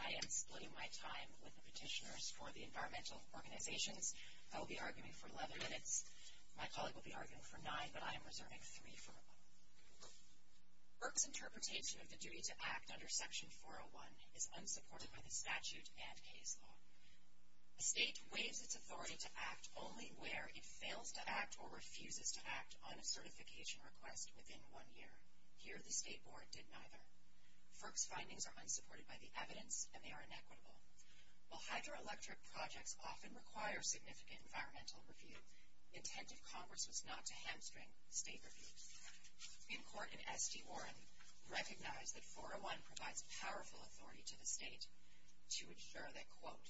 I am splitting my time with the Petitioners for the Environmental Organizations. I will be arguing for 11 minutes. My colleague will be arguing for 9, but I am reserving 3 for a moment. FERC's interpretation of the duty to act under Section 401 is unsupported by the statute and case law. A state waives its authority to act only where it fails to act or refuses to act on a certification request within one year. Here, the State Board did neither. FERC's findings are unsupported by the evidence, and they are inequitable. While hydroelectric projects often require significant environmental review, the intent of Congress was not to hamstring state review. In court in S.D. Warren, we recognize that 401 provides powerful authority to the state to ensure that, quote,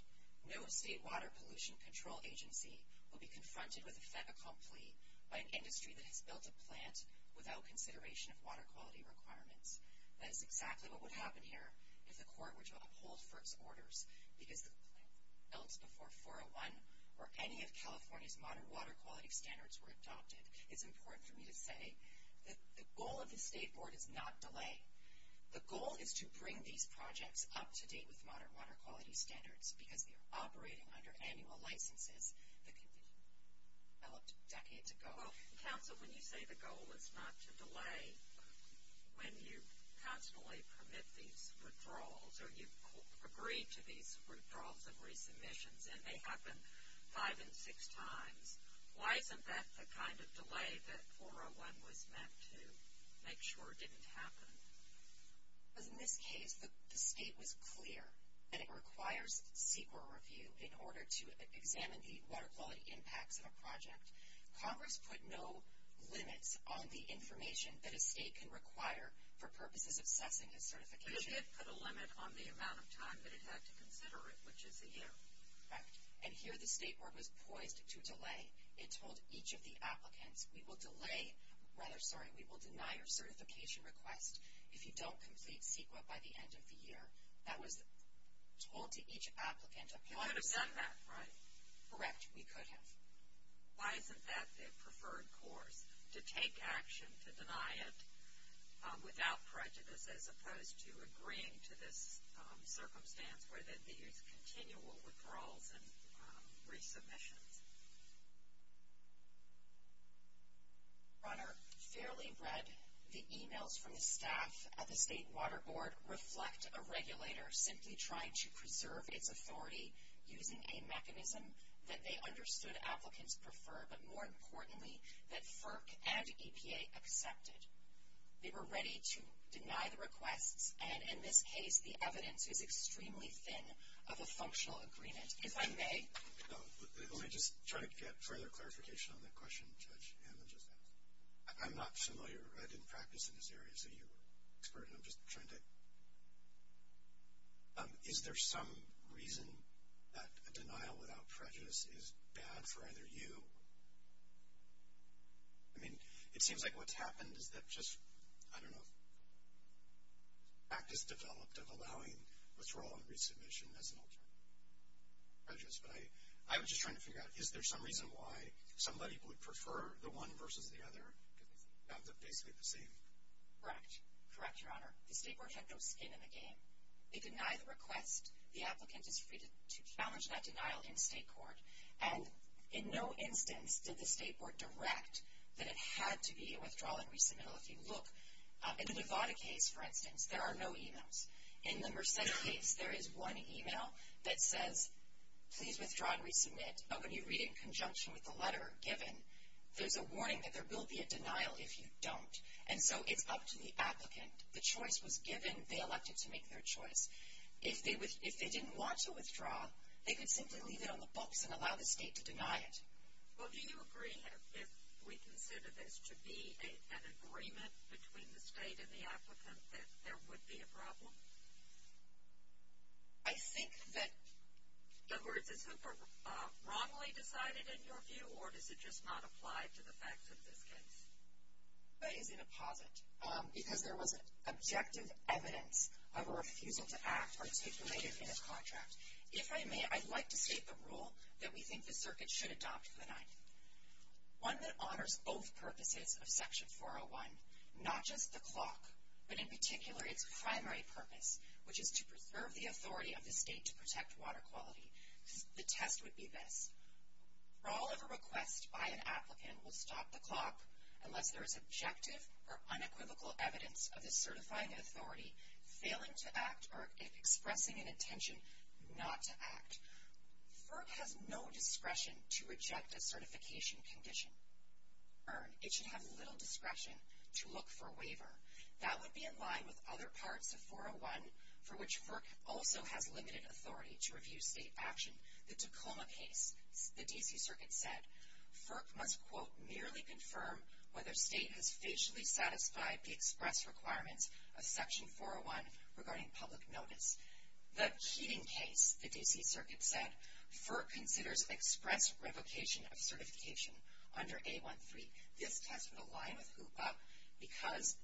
no state water pollution control agency will be confronted with a federal complaint by an industry that has built a plant without consideration of water quality requirements. That is exactly what would happen here if the court were to uphold FERC's orders, because the plant built before 401 or any of California's modern water quality standards were adopted. It's important for me to say that the goal of the State Board is not delay. The goal is to bring these projects up to date with modern water quality standards because they are operating under annual licenses that can be developed decades ago. Well, counsel, when you say the goal is not to delay, when you constantly permit these withdrawals or you've agreed to these withdrawals and resubmissions, and they happen five and six times, why isn't that the kind of delay that 401 was meant to make sure didn't happen? Because in this case, the state was clear that it requires CEQA review in order to examine the water quality impacts of a project. Congress put no limits on the information that a state can require for purposes of assessing a certification. It did put a limit on the amount of time that it had to consider it, which is a year. Correct. And here the State Board was poised to delay. It told each of the applicants, we will deny your certification request if you don't complete CEQA by the end of the year. That was told to each applicant. You could have done that, right? Correct. We could have. Why isn't that the preferred course, to take action to deny it without prejudice, as opposed to agreeing to this circumstance where there's continual withdrawals and resubmissions? Your Honor, fairly read, the emails from the staff at the State Water Board reflect a regulator simply trying to preserve its authority using a mechanism that they understood applicants prefer, but more importantly, that FERC and EPA accepted. They were ready to deny the requests, and in this case, the evidence is extremely thin of a functional agreement. If I may? Let me just try to get further clarification on that question, Judge Hammond. I'm not familiar. I didn't practice in this area, so you're an expert, and I'm just trying to. Is there some reason that a denial without prejudice is bad for either you? I mean, it seems like what's happened is that just, I don't know, practice developed of allowing withdrawal and resubmission as an alternative. But I was just trying to figure out, is there some reason why somebody would prefer the one versus the other? Because they sound basically the same. Correct. Correct, Your Honor. The State Board had no skin in the game. They deny the request. The applicant is free to challenge that denial in State Court. And in no instance did the State Board direct that it had to be a withdrawal and resubmittal. If you look, in the Nevada case, for instance, there are no e-mails. In the Merced case, there is one e-mail that says, please withdraw and resubmit. When you read it in conjunction with the letter given, there's a warning that there will be a denial if you don't. And so it's up to the applicant. The choice was given. They elected to make their choice. If they didn't want to withdraw, they could simply leave it on the books and allow the state to deny it. Well, do you agree if we consider this to be an agreement between the state and the applicant that there would be a problem? I think that the words are super wrongly decided in your view, or does it just not apply to the facts of this case? I think it's in a posit because there was objective evidence of a refusal to act articulated in this contract. If I may, I'd like to state the rule that we think the circuit should adopt for the night, one that honors both purposes of Section 401, not just the clock, but in particular its primary purpose, which is to preserve the authority of the state to protect water quality. The test would be this. For all of a request by an applicant will stop the clock unless there is objective or unequivocal evidence of the certifying authority failing to act or expressing an intention not to act. FERC has no discretion to reject a certification condition. It should have little discretion to look for a waiver. That would be in line with other parts of 401, for which FERC also has limited authority to review state action. The Tacoma case, the D.C. Circuit said, FERC must, quote, merely confirm whether state has facially satisfied the express requirements of Section 401 regarding public notice. The Keating case, the D.C. Circuit said, FERC considers express revocation of certification under A13. This test would align with HOOPA because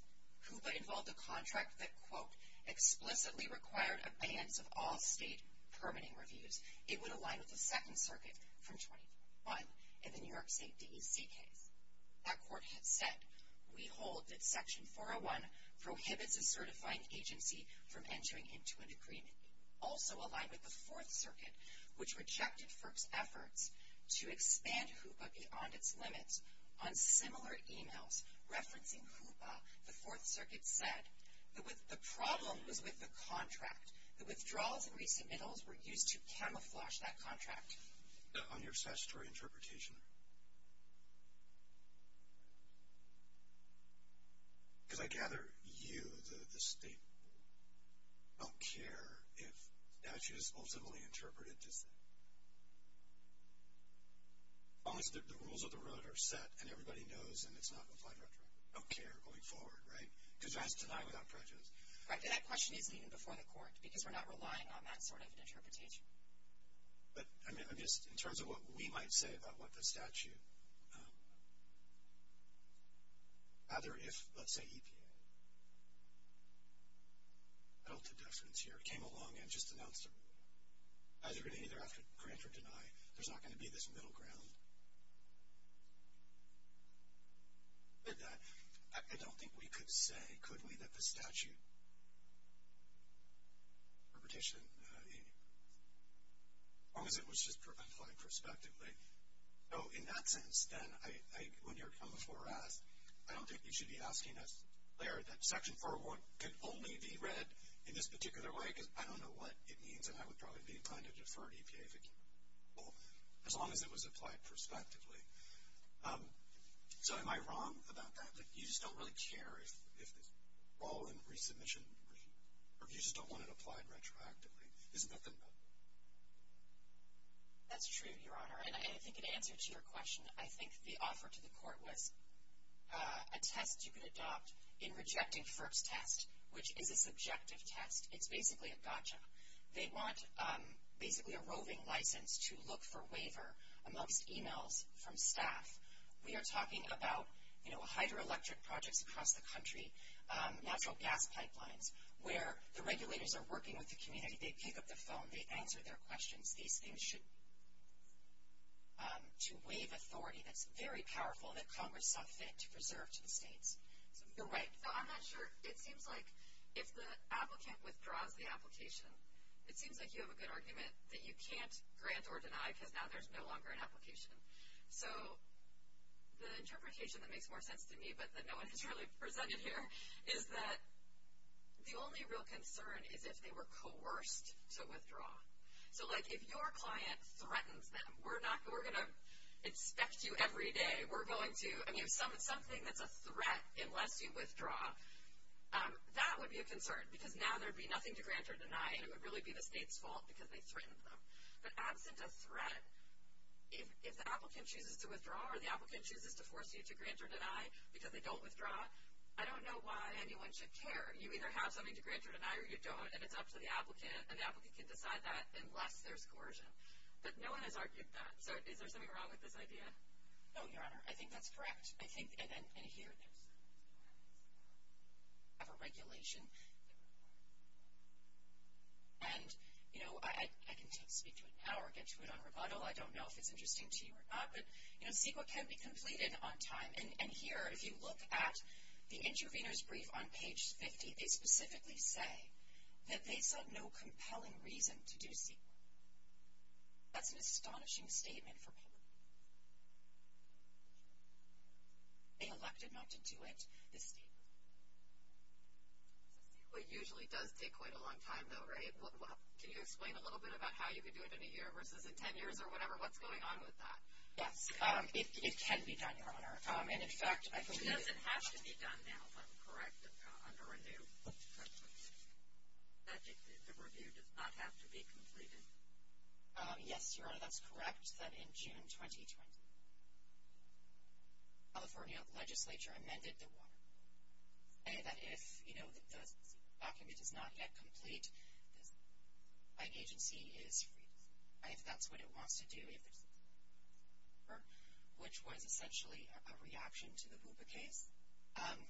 HOOPA involved a contract that, quote, explicitly required abeyance of all state permitting reviews. It would align with the Second Circuit from 2001 in the New York State D.C. case. That court had said, we hold that Section 401 prohibits a certifying agency from entering into an agreement. Also aligned with the Fourth Circuit, which rejected FERC's efforts to expand HOOPA beyond its limits. On similar emails referencing HOOPA, the Fourth Circuit said, the problem was with the contract. The withdrawals and resubmittals were used to camouflage that contract. On your statutory interpretation, because I gather you, the state, don't care if statute is ultimately interpreted to say, as long as the rules of the road are set and everybody knows and it's not applied retroactively, don't care going forward, right? Because that's denied without prejudice. That question isn't even before the court because we're not relying on that sort of interpretation. But in terms of what we might say about what the statute, either if, let's say, EPA held a deference here, came along and just announced, either going to either grant or deny, there's not going to be this middle ground. I don't think we could say, could we, that the statute interpretation, as long as it was just applied prospectively. So in that sense, then, when you're coming before us, I don't think you should be asking us, Claire, that Section 401 can only be read in this particular way because I don't know what it means and I would probably be inclined to defer to EPA if it came before. As long as it was applied prospectively. So am I wrong about that? You just don't really care if it's all in resubmission or if you just don't want it applied retroactively. Isn't that the method? That's true, Your Honor, and I think in answer to your question, I think the offer to the court was a test you could adopt in rejecting FIRP's test, which is a subjective test. It's basically a gotcha. They want basically a roving license to look for waiver amongst emails from staff. We are talking about hydroelectric projects across the country, natural gas pipelines, where the regulators are working with the community. They pick up the phone. They answer their questions. These things should, to waive authority. That's very powerful that Congress saw fit to preserve to the states. You're right. I'm not sure. It seems like if the applicant withdraws the application, it seems like you have a good argument that you can't grant or deny because now there's no longer an application. So the interpretation that makes more sense to me, but that no one has really presented here, is that the only real concern is if they were coerced to withdraw. So, like, if your client threatens them, we're going to inspect you every day. Something that's a threat unless you withdraw, that would be a concern because now there would be nothing to grant or deny, and it would really be the state's fault because they threatened them. But absent a threat, if the applicant chooses to withdraw or the applicant chooses to force you to grant or deny because they don't withdraw, I don't know why anyone should care. You either have something to grant or deny or you don't, and it's up to the applicant, and the applicant can decide that unless there's coercion. But no one has argued that. So is there something wrong with this idea? No, Your Honor, I think that's correct. I think, and here, we have a regulation. And, you know, I can speak to it now or get to it on rebuttal. I don't know if it's interesting to you or not, but, you know, CEQA can be completed on time. And here, if you look at the intervener's brief on page 50, they specifically say that they saw no compelling reason to do CEQA. That's an astonishing statement for public. They elected not to do it, this statement. So CEQA usually does take quite a long time, though, right? Can you explain a little bit about how you could do it in a year versus in ten years or whatever? What's going on with that? Yes, it can be done, Your Honor. And, in fact, I believe that the review does not have to be completed. Yes, Your Honor, that's correct, that in June 2020, California legislature amended the water law. And that if, you know, the CEQA document is not yet complete, my agency is free to say if that's what it wants to do, which was essentially a reaction to the Hoopa case.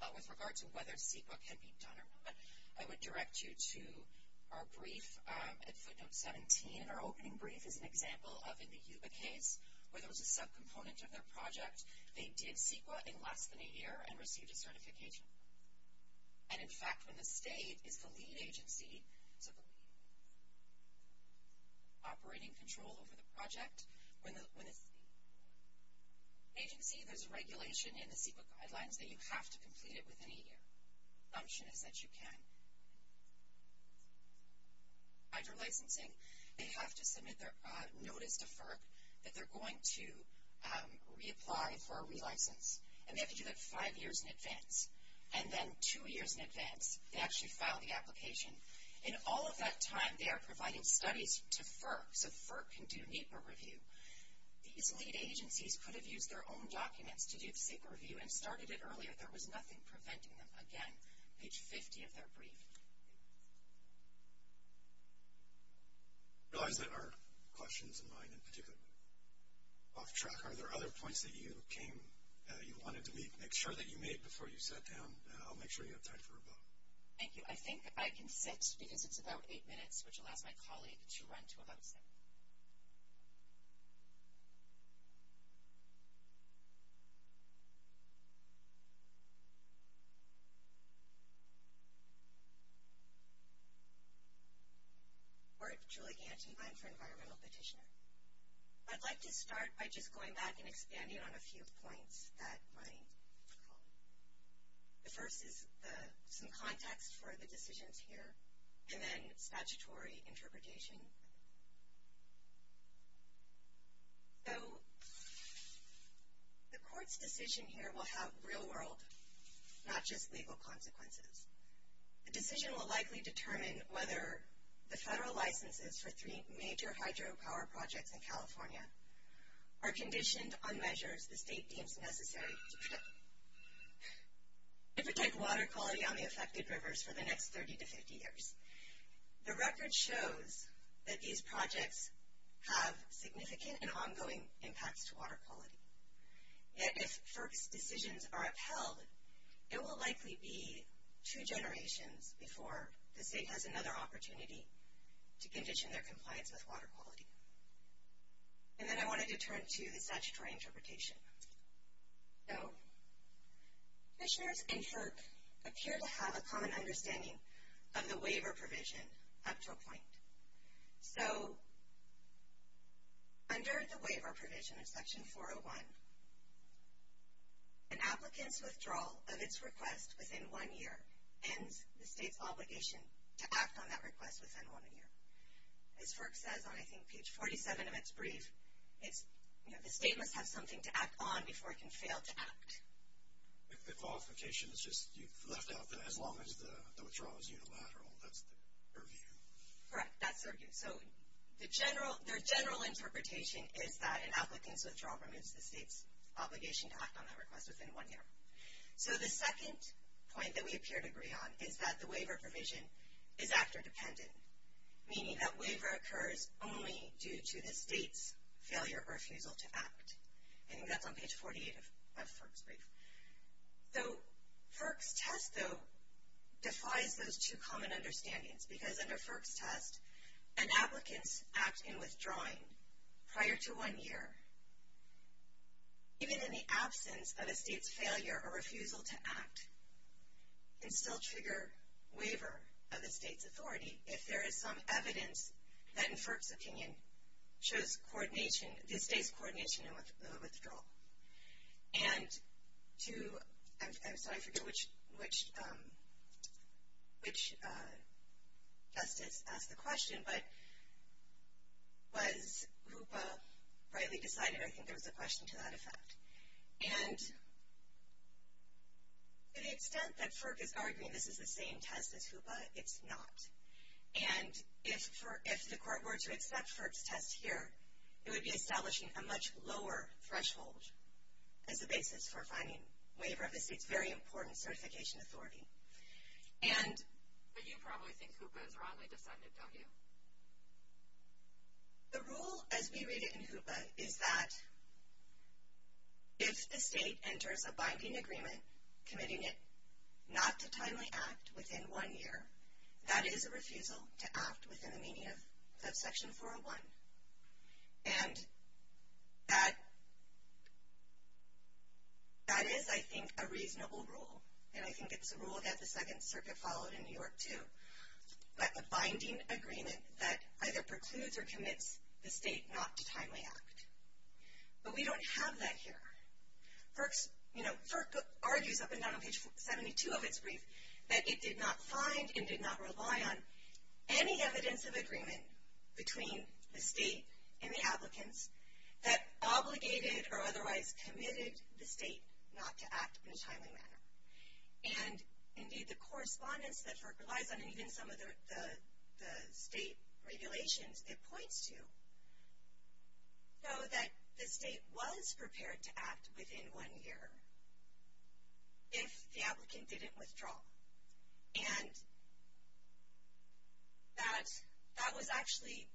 But with regard to whether CEQA can be done or not, I would direct you to our brief at footnote 17. And our opening brief is an example of, in the Hoopa case, where there was a subcomponent of their project. They did CEQA in less than a year and received a certification. And, in fact, when the state is the lead agency, so the operating control over the project, when the state agency, there's a regulation in the CEQA guidelines that you have to complete it within a year. The assumption is that you can. Under licensing, they have to submit their notice to FERC that they're going to reapply for a relicense. And they have to do that five years in advance. And then two years in advance, they actually file the application. In all of that time, they are providing studies to FERC, so FERC can do NEPA review. These lead agencies could have used their own documents to do CEQA review and started it earlier. There was nothing preventing them. Again, page 50 of their brief. I realize that our questions and mine in particular are off track. Are there other points that you came, you wanted to make sure that you made before you sat down? I'll make sure you have time for a vote. Thank you. I think I can sit because it's about eight minutes, which allows my colleague to run to a vote. I'm Julie Ganty. I'm for environmental petitioner. I'd like to start by just going back and expanding on a few points that my colleague made. The first is some context for the decisions here, and then statutory interpretation. So the court's decision here will have real world, not just legal consequences. The decision will likely determine whether the federal licenses for three major hydropower projects in California are conditioned on measures the state deems necessary to protect water quality on the affected rivers for the next 30 to 50 years. The record shows that these projects have significant and ongoing impacts to water quality. Yet if FERC's decisions are upheld, it will likely be two generations before the state has another opportunity to condition their compliance with water quality. And then I wanted to turn to the statutory interpretation. So petitioners and FERC appear to have a common understanding of the waiver provision up to a point. So under the waiver provision of Section 401, an applicant's withdrawal of its request within one year ends the state's obligation to act on that request within one year. As FERC says on, I think, page 47 of its brief, the state must have something to act on before it can fail to act. The qualification is just you've left out that as long as the withdrawal is unilateral, that's their view. Correct, that's their view. So their general interpretation is that an applicant's withdrawal removes the state's obligation to act on that request within one year. So the second point that we appear to agree on is that the waiver provision is actor dependent, meaning that waiver occurs only due to the state's failure or refusal to act. I think that's on page 48 of FERC's brief. So FERC's test, though, defies those two common understandings, because under FERC's test an applicant's act in withdrawing prior to one year, even in the absence of a state's failure or refusal to act, can still trigger waiver of the state's authority if there is some evidence that in FERC's opinion shows coordination, the state's coordination in withdrawal. And to, I'm sorry, I forget which justice asked the question, but was HOOPA rightly decided? I think there was a question to that effect. And to the extent that FERC is arguing this is the same test as HOOPA, it's not. And if the court were to accept FERC's test here, it would be establishing a much lower threshold as a basis for finding waiver of the state's very important certification authority. But you probably think HOOPA is wrongly decided, don't you? The rule as we read it in HOOPA is that if the state enters a binding agreement committing it not to timely act within one year, that is a refusal to act within the meaning of Section 401. And that is, I think, a reasonable rule. And I think it's a rule that the Second Circuit followed in New York, too. A binding agreement that either precludes or commits the state not to timely act. But we don't have that here. FERC argues up and down on page 72 of its brief that it did not find and did not rely on any evidence of agreement between the state and the applicants that obligated or otherwise committed the state not to act in a timely manner. And, indeed, the correspondence that FERC relies on and even some of the state regulations it points to show that the state was prepared to act within one year if the applicant didn't withdraw. And that was actually,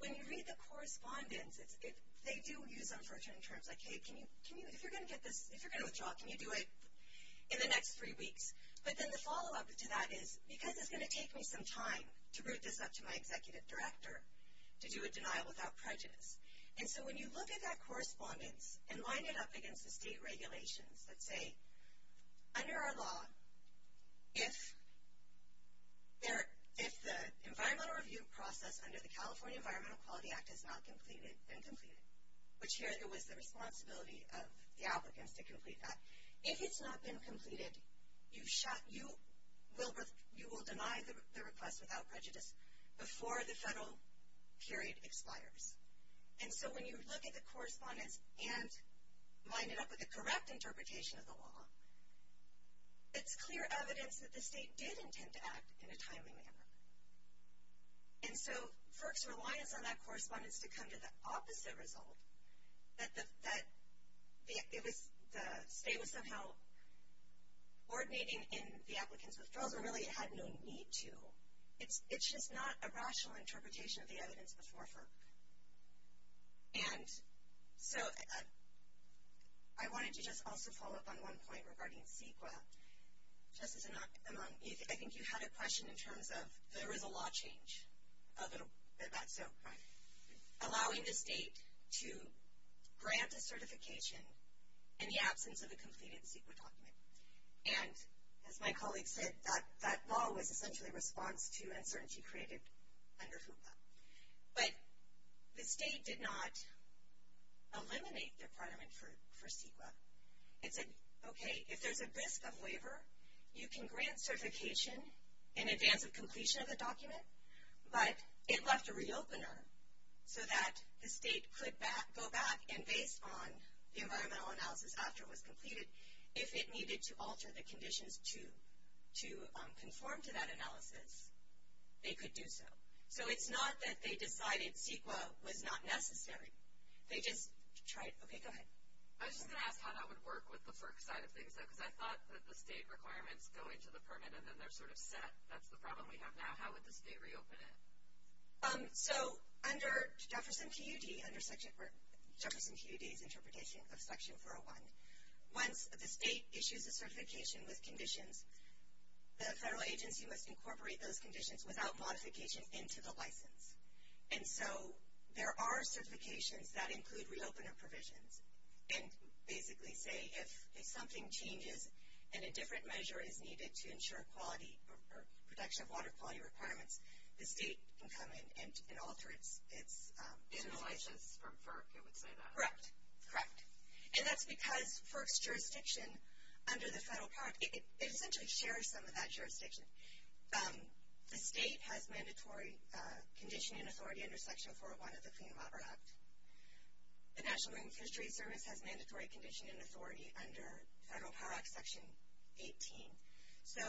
when you read the correspondence, they do use unfortunate terms like, hey, if you're going to withdraw, can you do it in the next three weeks? But then the follow-up to that is because it's going to take me some time to route this up to my executive director to do a denial without prejudice. And so when you look at that correspondence and line it up against the state regulations that say, under our law, if the environmental review process under the California Environmental Quality Act has not been completed, which here it was the responsibility of the applicants to complete that, if it's not been completed, you will deny the request without prejudice before the federal period expires. And so when you look at the correspondence and line it up with the correct interpretation of the law, it's clear evidence that the state did intend to act in a timely manner. And so FERC's reliance on that correspondence to come to the opposite result, that the state was somehow coordinating in the applicant's withdrawal, so really it had no need to. It's just not a rational interpretation of the evidence before FERC. And so I wanted to just also follow up on one point regarding CEQA. Just as a knock among, I think you had a question in terms of there is a law change, so allowing the state to grant a certification in the absence of a completed CEQA document. And as my colleague said, that law was essentially a response to uncertainty created under FUPA. But the state did not eliminate the requirement for CEQA. Okay, if there's a risk of waiver, you can grant certification in advance of completion of the document, but it left a re-opener so that the state could go back and based on the environmental analysis after it was completed, if it needed to alter the conditions to conform to that analysis, they could do so. So it's not that they decided CEQA was not necessary. They just tried, okay, go ahead. I was just going to ask how that would work with the FERC side of things, though, because I thought that the state requirements go into the permit and then they're sort of set. That's the problem we have now. How would the state reopen it? So under Jefferson TUD, under Jefferson TUD's interpretation of Section 401, once the state issues a certification with conditions, the federal agency must incorporate those conditions without modification into the license. And so there are certifications that include re-opener provisions and basically say if something changes and a different measure is needed to ensure quality or protection of water quality requirements, the state can come in and alter its license. In the license from FERC, it would say that. Correct, correct. And that's because FERC's jurisdiction under the federal part, it essentially shares some of that jurisdiction. The state has mandatory condition and authority under Section 401 of the Clean Water Act. The National Marine Fisheries Service has mandatory condition and authority under Federal Power Act Section 18. So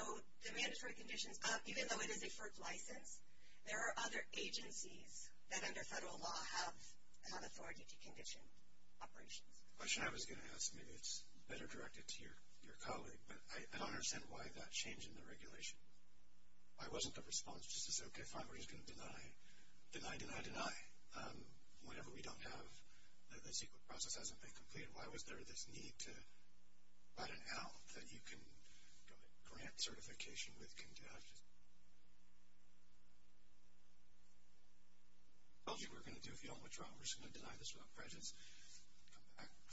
the mandatory conditions, even though it is a FERC license, there are other agencies that under federal law have authority to condition operations. The question I was going to ask, maybe it's better directed to your colleague, but I don't understand why that change in the regulation. Why wasn't the response just to say, okay, fine, we're just going to deny, deny, deny, deny? Whenever we don't have the CEQA process hasn't been completed, why was there this need to write an out that you can grant certification with conditions? I told you we were going to do it if you don't withdraw. We're just going to deny this without prejudice.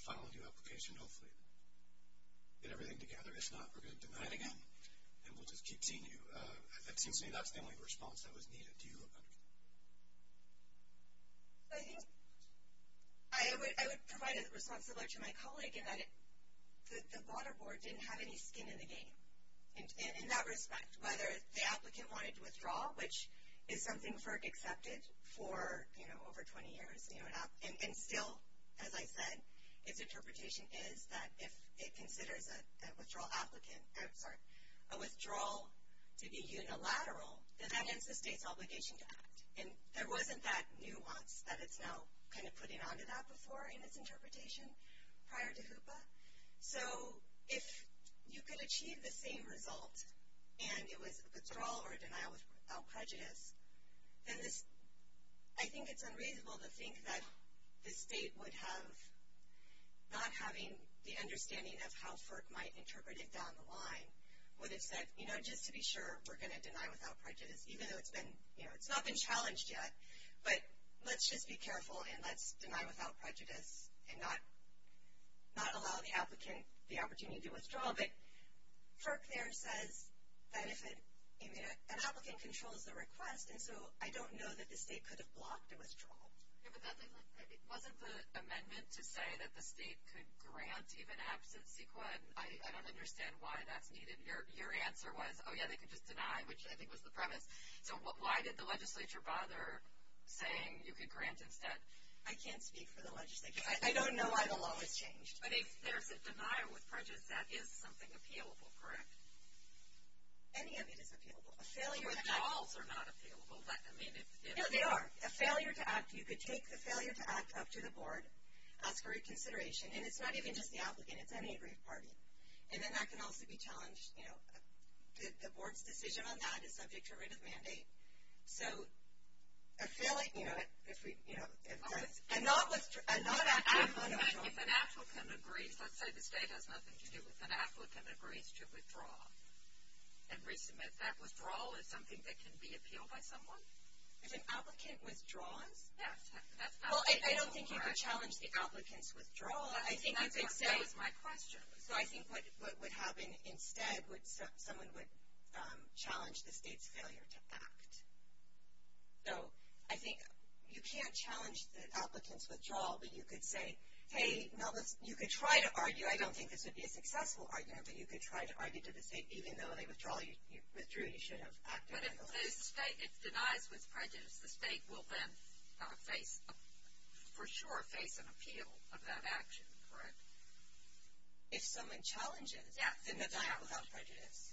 Final new application, hopefully. Get everything together. If not, we're going to deny it again, and we'll just keep seeing you. It seems to me that's the only response that was needed. Do you look under? I think I would provide a response similar to my colleague in that the water board didn't have any skin in the game in that respect. Whether the applicant wanted to withdraw, which is something FERC accepted for over 20 years, and still, as I said, its interpretation is that if it considers a withdrawal to be unilateral, then that ends the state's obligation to act. And there wasn't that nuance that it's now kind of putting onto that before in its interpretation prior to HOOPA. So if you could achieve the same result and it was a withdrawal or a denial without prejudice, then I think it's unreasonable to think that the state would have, not having the understanding of how FERC might interpret it down the line, would have said, you know, just to be sure, we're going to deny without prejudice, even though it's not been challenged yet. But let's just be careful, and let's deny without prejudice and not allow the applicant the opportunity to withdraw. FERC there says that if an applicant controls the request, and so I don't know that the state could have blocked a withdrawal. It wasn't the amendment to say that the state could grant even absent CEQA. I don't understand why that's needed. Your answer was, oh, yeah, they could just deny, which I think was the premise. So why did the legislature bother saying you could grant instead? I can't speak for the legislature. I don't know why the law was changed. But if there's a denial with prejudice, that is something appealable, correct? Any of it is appealable. Withdrawals are not appealable. No, they are. A failure to act, you could take the failure to act up to the board, ask for reconsideration, and it's not even just the applicant. It's any agreed party. And then that can also be challenged, you know. The board's decision on that is subject to a writ of mandate. So a failure, you know, if we, you know. If an applicant agrees, let's say the state has nothing to do with an applicant, agrees to withdraw and resubmit, that withdrawal is something that can be appealed by someone? If an applicant withdraws? Yes. Well, I don't think you could challenge the applicant's withdrawal. That was my question. So I think what would happen instead would, someone would challenge the state's failure to act. So I think you can't challenge the applicant's withdrawal, but you could say, hey, you could try to argue, I don't think this would be a successful argument, but you could try to argue to the state, even though they withdrew, you should have acted. But if it denies with prejudice, the state will then face, for sure, will face an appeal of that action, correct? If someone challenges. Yes. Then that's without prejudice.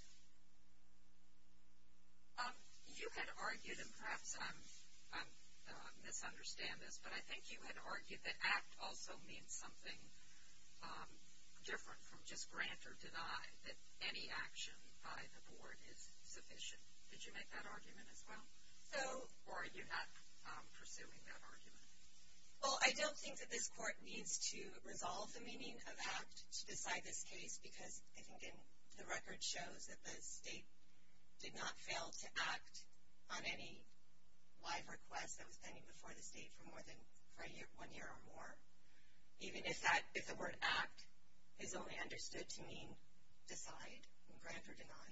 You had argued, and perhaps I'm, I misunderstand this, but I think you had argued that act also means something different from just grant or deny, that any action by the board is sufficient. Did you make that argument as well? So. Or are you not pursuing that argument? Well, I don't think that this court needs to resolve the meaning of act to decide this case, because I think the record shows that the state did not fail to act on any live request that was pending before the state for more than one year or more, even if the word act is only understood to mean decide and grant or deny.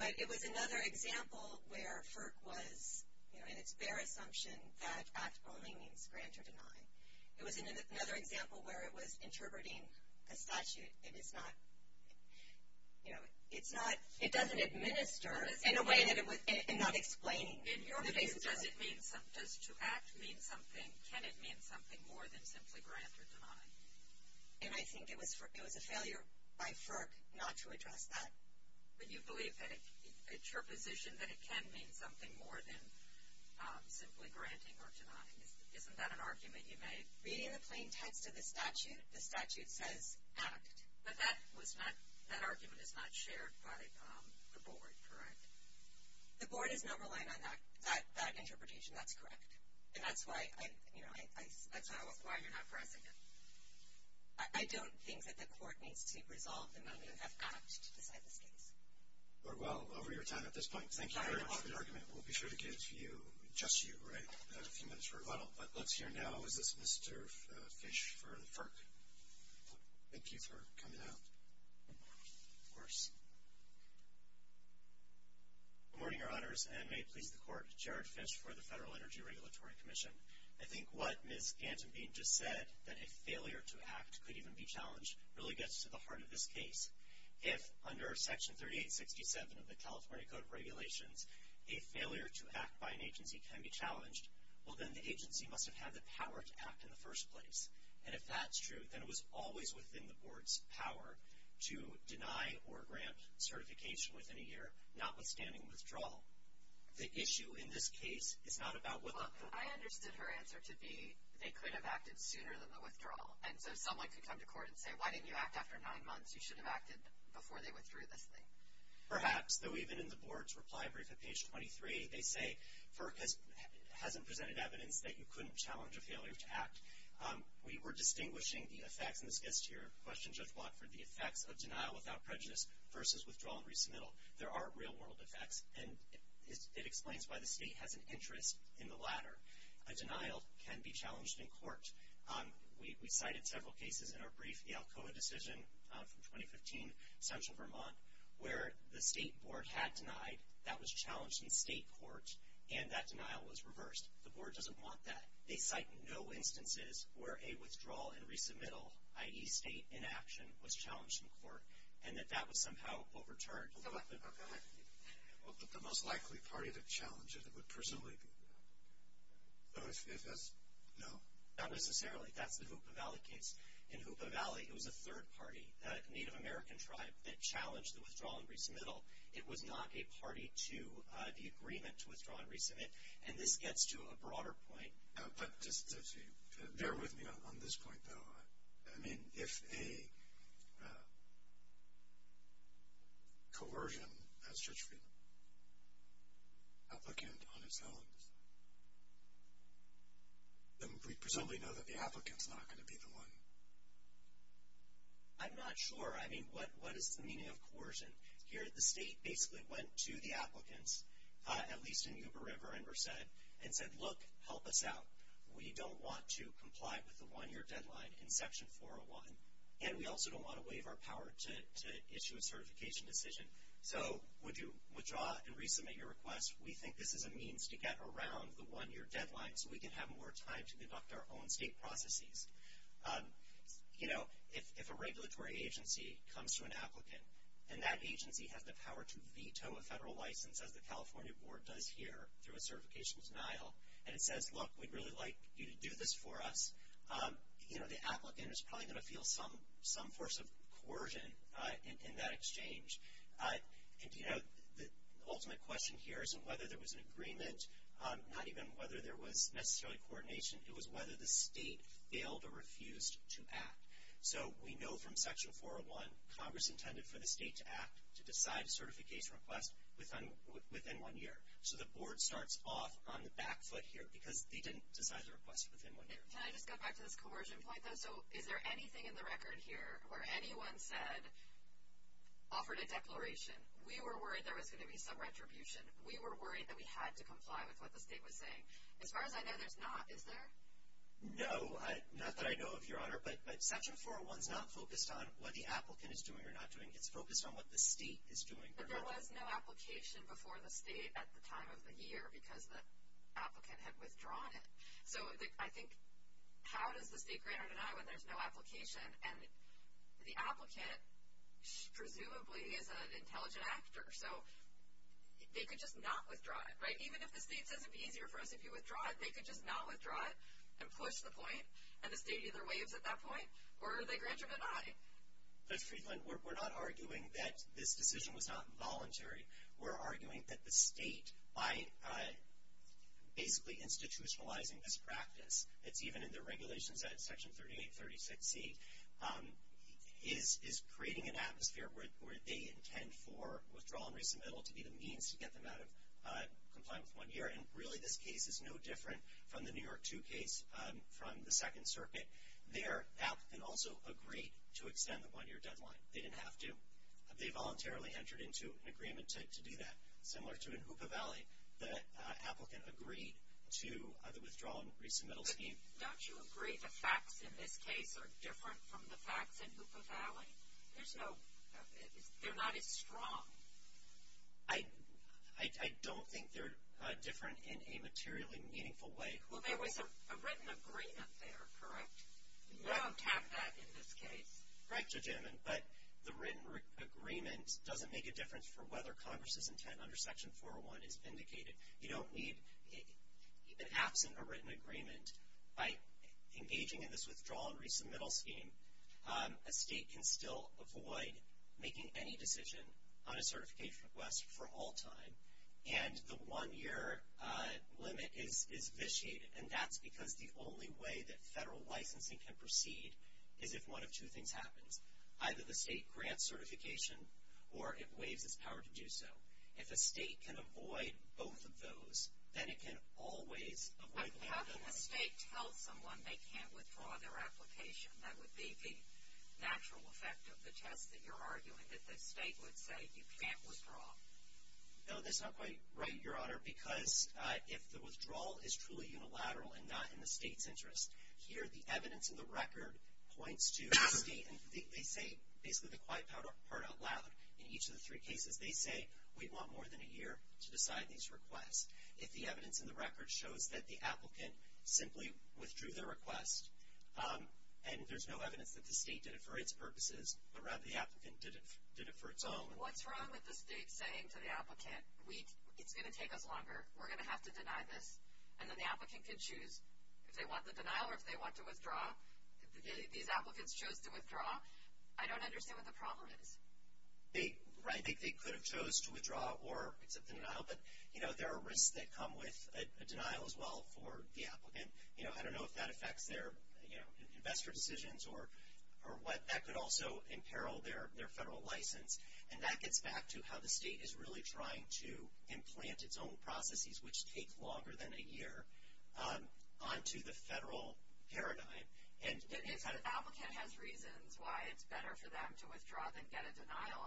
But it was another example where FERC was, you know, its bare assumption that act only means grant or deny. It was another example where it was interpreting a statute. It is not, you know, it's not, it doesn't administer in a way that it would, and not explain. In your case, does it mean, does to act mean something, can it mean something more than simply grant or deny? And I think it was a failure by FERC not to address that. But you believe that it's your position that it can mean something more than simply granting or denying. Isn't that an argument you made? Reading the plain text of the statute, the statute says act. But that was not, that argument is not shared by the board, correct? The board is not relying on that interpretation. That's correct. And that's why, you know, that's why you're not pressing it. I don't think that the court needs to resolve the matter. You have act to decide this case. Well, over your time at this point, thank you very much for the argument. We'll be sure to give you, just you, right, a few minutes for rebuttal. But let's hear now, is this Mr. Fish for FERC? Thank you for coming out. Of course. Good morning, Your Honors, and may it please the court, Jared Fish for the Federal Energy Regulatory Commission. I think what Ms. Gantenbean just said, that a failure to act could even be challenged, really gets to the heart of this case. If, under Section 3867 of the California Code of Regulations, a failure to act by an agency can be challenged, well then the agency must have had the power to act in the first place. And if that's true, then it was always within the board's power to deny or grant certification within a year, notwithstanding withdrawal. The issue in this case is not about what the board. I understood her answer to be they could have acted sooner than the withdrawal. And so someone could come to court and say, why didn't you act after nine months? You should have acted before they withdrew this thing. Perhaps, though even in the board's reply brief at page 23, they say FERC hasn't presented evidence that you couldn't challenge a failure to act. We were distinguishing the effects, and this gets to your question, Judge Watford, the effects of denial without prejudice versus withdrawal and resubmittal. There are real-world effects, and it explains why the state has an interest in the latter. A denial can be challenged in court. We cited several cases in our brief, the Alcoa decision from 2015, central Vermont, where the state board had denied, that was challenged in state court, and that denial was reversed. The board doesn't want that. They cite no instances where a withdrawal and resubmittal, i.e. state inaction, was challenged in court and that that was somehow overturned. But the most likely party to challenge it would presumably be them. So if that's, no? Not necessarily. That's the Hoopa Valley case. In Hoopa Valley, it was a third party, a Native American tribe, that challenged the withdrawal and resubmittal. It was not a party to the agreement to withdraw and resubmit, and this gets to a broader point. But just bear with me on this point, though. I mean, if a coercion has such an applicant on its own, then we presumably know that the applicant's not going to be the one. I'm not sure. I mean, what is the meaning of coercion? Here the state basically went to the applicants, at least in Hoopa River and Merced, and said, look, help us out. We don't want to comply with the one-year deadline in Section 401, and we also don't want to waive our power to issue a certification decision. So would you withdraw and resubmit your request? We think this is a means to get around the one-year deadline so we can have more time to conduct our own state processes. You know, if a regulatory agency comes to an applicant, and that agency has the power to veto a federal license, as the California Board does here through a certification denial, and it says, look, we'd really like you to do this for us, you know, the applicant is probably going to feel some force of coercion in that exchange. And, you know, the ultimate question here isn't whether there was an agreement, not even whether there was necessarily coordination. It was whether the state failed or refused to act. So we know from Section 401, Congress intended for the state to act, to decide a certification request within one year. So the board starts off on the back foot here, because they didn't decide the request within one year. Can I just go back to this coercion point, though? So is there anything in the record here where anyone said, offered a declaration, we were worried there was going to be some retribution, we were worried that we had to comply with what the state was saying? As far as I know, there's not, is there? No, not that I know of, Your Honor, but Section 401 is not focused on what the applicant is doing or not doing. It's focused on what the state is doing. But there was no application before the state at the time of the year, because the applicant had withdrawn it. So I think how does the state grant or deny when there's no application? And the applicant presumably is an intelligent actor, so they could just not withdraw it, right? Even if the state says it would be easier for us if you withdraw it, they could just not withdraw it and push the point, and the state either waives at that point or they grant or deny. Judge Friedland, we're not arguing that this decision was not voluntary. We're arguing that the state, by basically institutionalizing this practice, it's even in the regulations at Section 3836C, is creating an atmosphere where they intend for withdrawal and resubmittal to be the means to get them out of compliance one year. And really this case is no different from the New York 2 case from the Second Circuit. There, the applicant also agreed to extend the one-year deadline. They didn't have to. They voluntarily entered into an agreement to do that. Similar to in Hoopa Valley, the applicant agreed to the withdrawal and resubmittal scheme. But don't you agree the facts in this case are different from the facts in Hoopa Valley? There's no – they're not as strong. I don't think they're different in a materially meaningful way. Well, there was a written agreement there, correct? You don't have that in this case? Correct, Judge Edmund, but the written agreement doesn't make a difference for whether Congress's intent under Section 401 is vindicated. You don't need, even absent a written agreement, by engaging in this withdrawal and resubmittal scheme, a state can still avoid making any decision on a certification request for all time. And the one-year limit is vitiated, and that's because the only way that federal licensing can proceed is if one of two things happens, either the state grants certification or it waives its power to do so. If a state can avoid both of those, then it can always avoid the one-year deadline. How can a state tell someone they can't withdraw their application? That would be the natural effect of the test that you're arguing, that the state would say you can't withdraw. No, that's not quite right, Your Honor, because if the withdrawal is truly unilateral and not in the state's interest, here the evidence in the record points to the state. They say basically the quiet part out loud in each of the three cases. They say we want more than a year to decide these requests. If the evidence in the record shows that the applicant simply withdrew their request, and there's no evidence that the state did it for its purposes, but rather the applicant did it for its own. What's wrong with the state saying to the applicant, it's going to take us longer, we're going to have to deny this, and then the applicant can choose if they want the denial or if they want to withdraw. If these applicants chose to withdraw, I don't understand what the problem is. I think they could have chose to withdraw or accept the denial, but there are risks that come with a denial as well for the applicant. I don't know if that affects their investor decisions or what. That could also imperil their federal license, and that gets back to how the state is really trying to implant its own processes, which take longer than a year, onto the federal paradigm. If the applicant has reasons why it's better for them to withdraw than get a denial,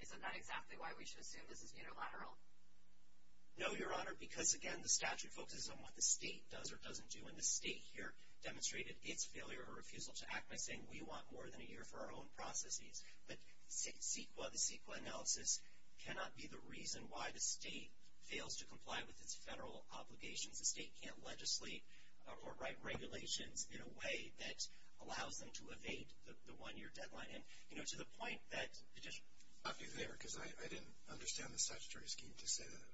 is it not exactly why we should assume this is unilateral? No, Your Honor, because again the statute focuses on what the state does or doesn't do, and the state here demonstrated its failure or refusal to act by saying, we want more than a year for our own processes. But CEQA, the CEQA analysis, cannot be the reason why the state fails to comply with its federal obligations. The state can't legislate or write regulations in a way that allows them to evade the one-year deadline. And, you know, to the point that it just. I'll stop you there because I didn't understand the statutory scheme to say that.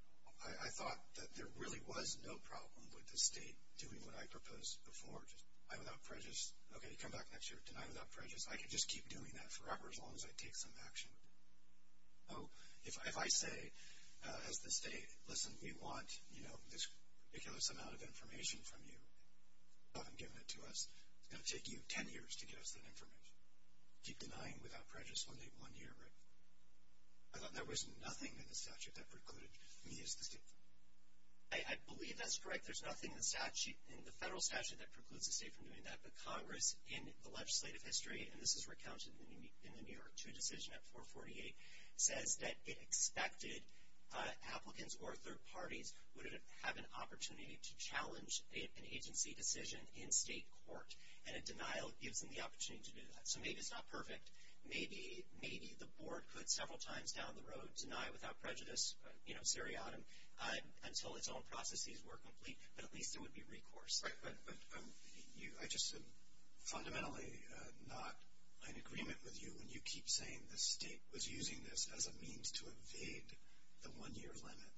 I thought that there really was no problem with the state doing what I proposed before, just deny without prejudice. Okay, you come back next year, deny without prejudice. I could just keep doing that forever as long as I take some action. So if I say, as the state, listen, we want, you know, this ridiculous amount of information from you. You haven't given it to us. It's going to take you ten years to give us that information. Keep denying without prejudice one day, one year, right? I thought there was nothing in the statute that precluded me as the state. I believe that's correct. There's nothing in the federal statute that precludes the state from doing that. But Congress, in the legislative history, and this is recounted in the New York 2 decision at 448, says that it expected applicants or third parties would have an opportunity to challenge an agency decision in state court. And a denial gives them the opportunity to do that. So maybe it's not perfect. Maybe the board could several times down the road deny without prejudice, you know, seriatim, until its own processes were complete, but at least there would be recourse. Right, but I just am fundamentally not in agreement with you when you keep saying the state was using this as a means to evade the one-year limit.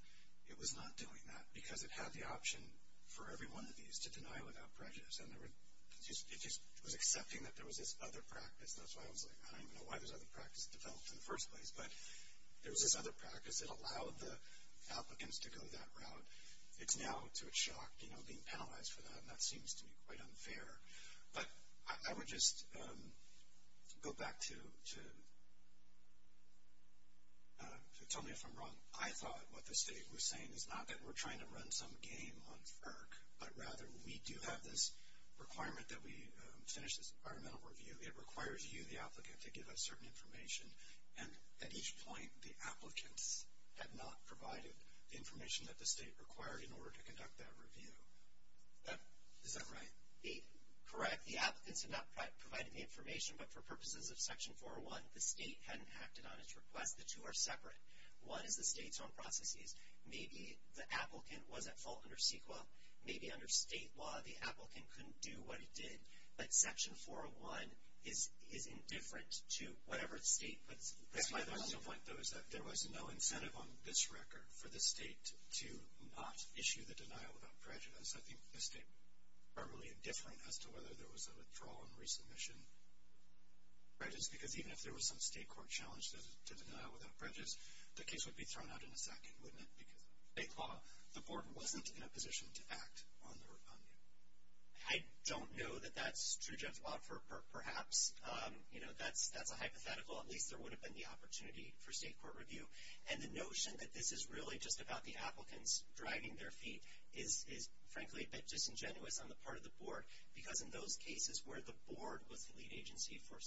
It was not doing that because it had the option for every one of these to deny without prejudice, and it just was accepting that there was this other practice. That's why I was like, I don't even know why this other practice developed in the first place. But there was this other practice that allowed the applicants to go that route. It's now to a shock, you know, being penalized for that, and that seems to be quite unfair. But I would just go back to tell me if I'm wrong. I thought what the state was saying is not that we're trying to run some game on FERC, but rather we do have this requirement that we finish this environmental review. It requires you, the applicant, to give us certain information, and at each point the applicants have not provided the information that the state required in order to conduct that review. Is that right? Correct. The applicants have not provided the information, but for purposes of Section 401, the state hadn't acted on its request. The two are separate. One is the state's own processes. Maybe the applicant was at fault under CEQA. Maybe under state law the applicant couldn't do what he did. But Section 401 is indifferent to whatever state puts pressure on them. That's my final point, though, is that there was no incentive on this record for the state to not issue the denial without prejudice. I think the state was primarily indifferent as to whether there was a withdrawal and resubmission prejudice, because even if there was some state court challenge to denial without prejudice, the case would be thrown out in a second, wouldn't it? Because under state law, the board wasn't in a position to act on it. I don't know that that's true, Jeff. Perhaps that's a hypothetical. At least there would have been the opportunity for state court review. And the notion that this is really just about the applicants dragging their feet is, frankly, a bit disingenuous on the part of the board, because in those cases where the board was the lead agency for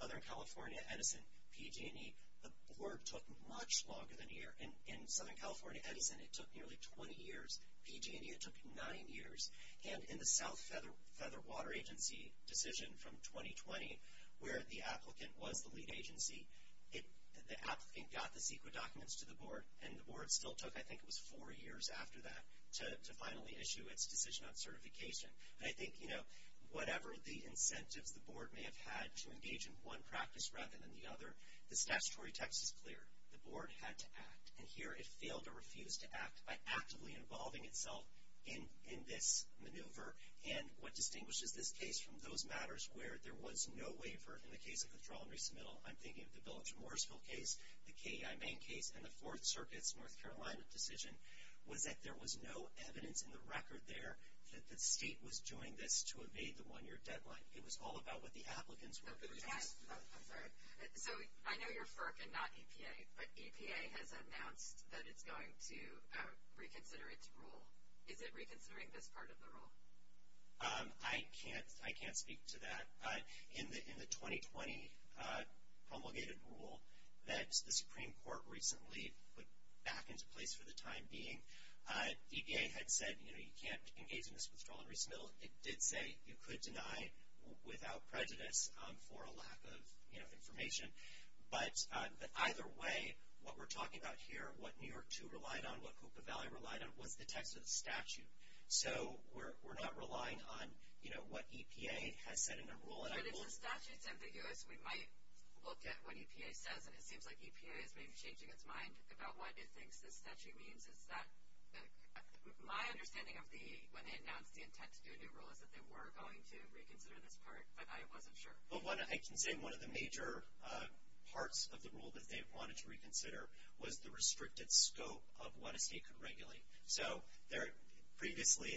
Southern California, Edison, PG&E, the board took much longer than a year. In Southern California, Edison, it took nearly 20 years. PG&E, it took nine years. And in the South Feather Water Agency decision from 2020, where the applicant was the lead agency, the applicant got the CEQA documents to the board, and the board still took, I think it was four years after that, to finally issue its decision on certification. And I think, you know, whatever the incentives the board may have had to engage in one practice rather than the other, the statutory text is clear. The board had to act, and here it failed to refuse to act by actively involving itself in this maneuver. And what distinguishes this case from those matters where there was no waiver, in the case of withdrawal and resubmittal, I'm thinking of the Village of Morrisville case, the KEI main case, and the Fourth Circuit's North Carolina decision, was that there was no evidence in the record there that the state was doing this to evade the one-year deadline. It was all about what the applicants were doing. So I know you're FERC and not EPA, but EPA has announced that it's going to reconsider its rule. Is it reconsidering this part of the rule? I can't speak to that. In the 2020 promulgated rule that the Supreme Court recently put back into place for the time being, EPA had said, you know, you can't engage in this withdrawal and resubmittal. It did say you could deny without prejudice for a lack of, you know, information. But either way, what we're talking about here, what New York, too, relied on, what Copa Valley relied on was the text of the statute. So we're not relying on, you know, what EPA has said in the rule. But if the statute's ambiguous, we might look at what EPA says, and it seems like EPA is maybe changing its mind about what it thinks this statute means. My understanding of the, when they announced the intent to do a new rule, is that they were going to reconsider this part, but I wasn't sure. I can say one of the major parts of the rule that they wanted to reconsider was the restricted scope of what a state could regulate. So previously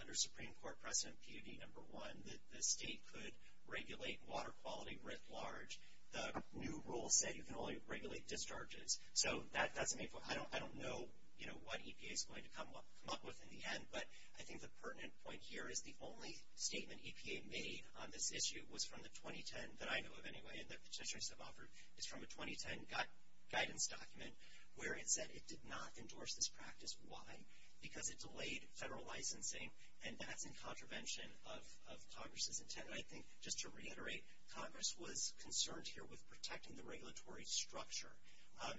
under Supreme Court precedent, PUD number one, the state could regulate water quality writ large. The new rule said you can only regulate discharges. So that's a main point. I don't know, you know, what EPA is going to come up with in the end, but I think the pertinent point here is the only statement EPA made on this issue was from the 2010, that I know of anyway, and the petitioners have offered, is from a 2010 guidance document where it said it did not endorse this practice. Why? Because it delayed federal licensing, and that's in contravention of Congress's intent. And I think, just to reiterate, Congress was concerned here with protecting the regulatory structure.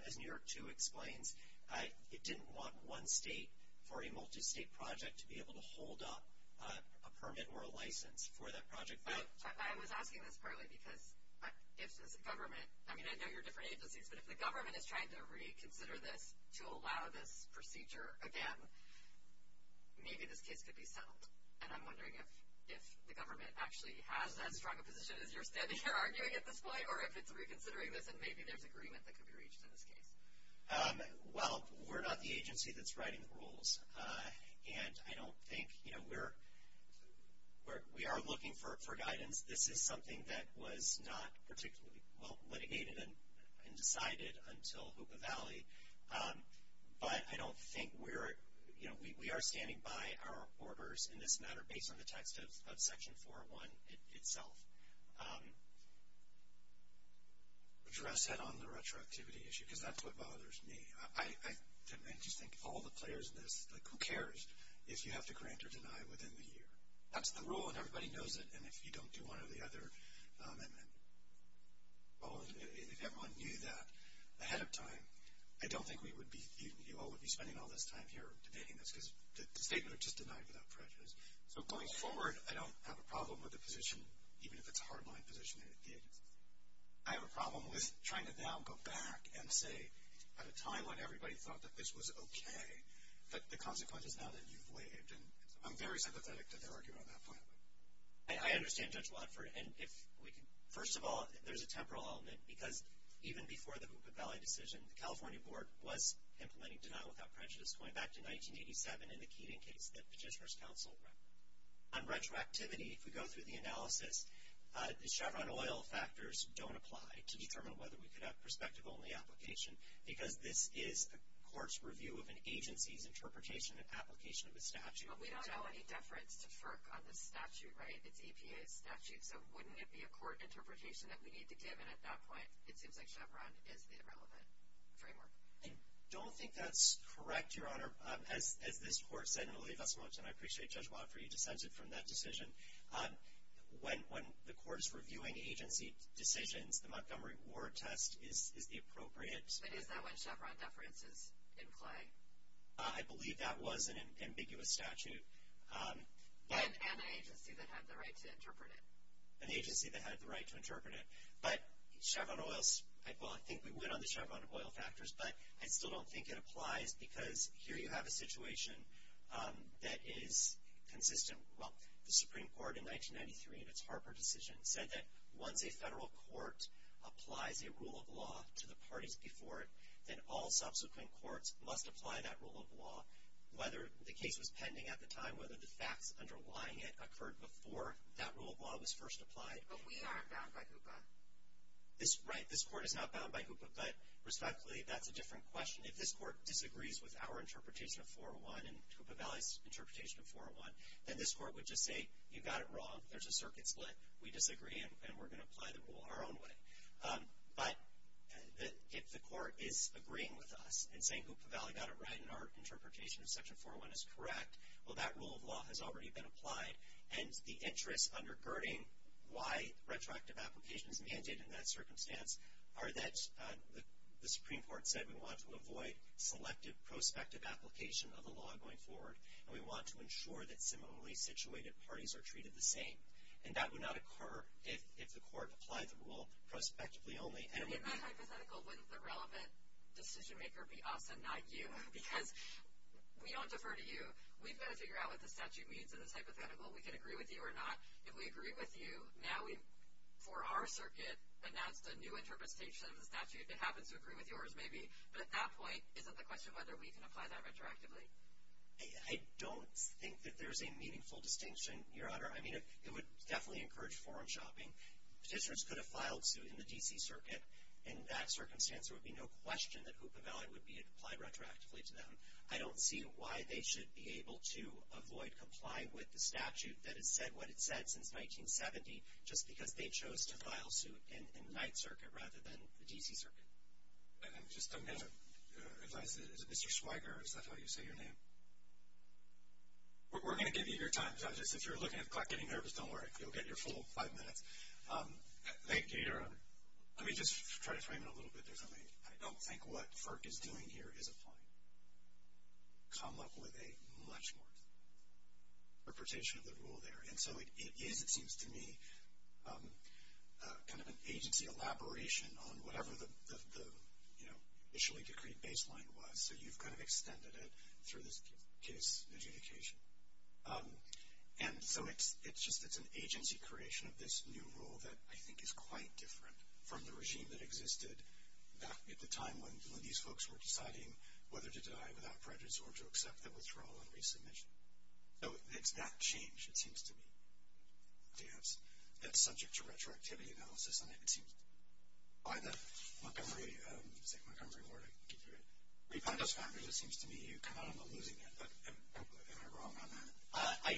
As New York 2 explains, it didn't want one state for a multi-state project to be able to hold up a permit or a license for that project. I was asking this partly because if the government, I mean, I know you're different agencies, but if the government is trying to reconsider this to allow this procedure again, maybe this case could be settled. And I'm wondering if the government actually has as strong a position as you're standing here arguing at this point, or if it's reconsidering this and maybe there's agreement that could be reached in this case. Well, we're not the agency that's writing the rules. And I don't think, you know, we are looking for guidance. This is something that was not particularly well litigated and decided until Hoopa Valley. But I don't think we're, you know, we are standing by our orders in this matter based on the text of Section 401 itself. Address that on the retroactivity issue because that's what bothers me. I just think all the players in this, like who cares if you have to grant or deny within the year. That's the rule and everybody knows it. And if you don't do one or the other, and if everyone knew that ahead of time, I don't think we would be spending all this time here debating this because the statements are just denied without prejudice. So going forward, I don't have a problem with the position, even if it's a hardline position that it did. I have a problem with trying to now go back and say, at a time when everybody thought that this was okay, that the consequences now that you've waived. And I'm very sympathetic to their argument on that point. I understand Judge Watford. And if we could, first of all, there's a temporal element because even before the Hoopa Valley decision, the California Board was implementing deny without prejudice going back to 1987 in the Keating case that petitioners counseled. On retroactivity, if we go through the analysis, the Chevron oil factors don't apply to determine whether we could have perspective-only application because this is a court's review of an agency's interpretation and application of a statute. But we don't have any deference to FERC on this statute, right? It's EPA's statute. So wouldn't it be a court interpretation that we need to give? And at that point, it seems like Chevron is the relevant framework. I don't think that's correct, Your Honor. As this court said, and I appreciate Judge Watford, you dissented from that decision, when the court is reviewing agency decisions, the Montgomery Ward test is the appropriate. But is that when Chevron deference is in play? I believe that was an ambiguous statute. And an agency that had the right to interpret it. An agency that had the right to interpret it. But Chevron oil, well, I think we win on the Chevron oil factors, but I still don't think it applies because here you have a situation that is consistent. Well, the Supreme Court in 1993 in its Harper decision said that once a federal court applies a rule of law to the parties before it, then all subsequent courts must apply that rule of law, whether the case was pending at the time, whether the facts underlying it occurred before that rule of law was first applied. But we aren't bound by HOOPA. Right, this court is not bound by HOOPA. But, respectfully, that's a different question. If this court disagrees with our interpretation of 401 and HOOPA Valley's interpretation of 401, then this court would just say, you got it wrong, there's a circuit split, we disagree, and we're going to apply the rule our own way. But if the court is agreeing with us and saying HOOPA Valley got it right and our interpretation of Section 401 is correct, well, that rule of law has already been applied. And the interests undergirding why retroactive application is mandated in that circumstance are that the Supreme Court said we want to avoid selective prospective application of the law going forward and we want to ensure that similarly situated parties are treated the same. And that would not occur if the court applied the rule prospectively only. In that hypothetical, wouldn't the relevant decision maker be us and not you? Because we don't defer to you. We've got to figure out what the statute means in this hypothetical. We can agree with you or not. If we agree with you, now we, for our circuit, announced a new interpretation of the statute. It happens to agree with yours, maybe. But at that point, is it the question of whether we can apply that retroactively? I don't think that there's a meaningful distinction, Your Honor. I mean, it would definitely encourage forum shopping. Petitioners could have filed suit in the D.C. circuit. In that circumstance, there would be no question that HOOPA Valley would be applied retroactively to them. I don't see why they should be able to avoid complying with the statute that has said what it's said since 1970 just because they chose to file suit in the Ninth Circuit rather than the D.C. circuit. Just a minute. Is it Mr. Schweiger? Is that how you say your name? We're going to give you your time, judges. If you're looking at the clock getting nervous, don't worry. You'll get your full five minutes. Thank you, Your Honor. Let me just try to frame it a little bit. I don't think what FERC is doing here is applying. Come up with a much more interpretation of the rule there. And so it is, it seems to me, kind of an agency elaboration on whatever the, you know, initially decreed baseline was, so you've kind of extended it through this case adjudication. And so it's just, it's an agency creation of this new rule that I think is quite different from the regime that existed back at the time when these folks were deciding whether to die without prejudice or to accept the withdrawal and resubmission. So it's that change, it seems to me, that's subject to retroactivity analysis. And it seems, by the Montgomery, I think Montgomery board, I can get through it, but I'm losing it. Am I wrong on that? I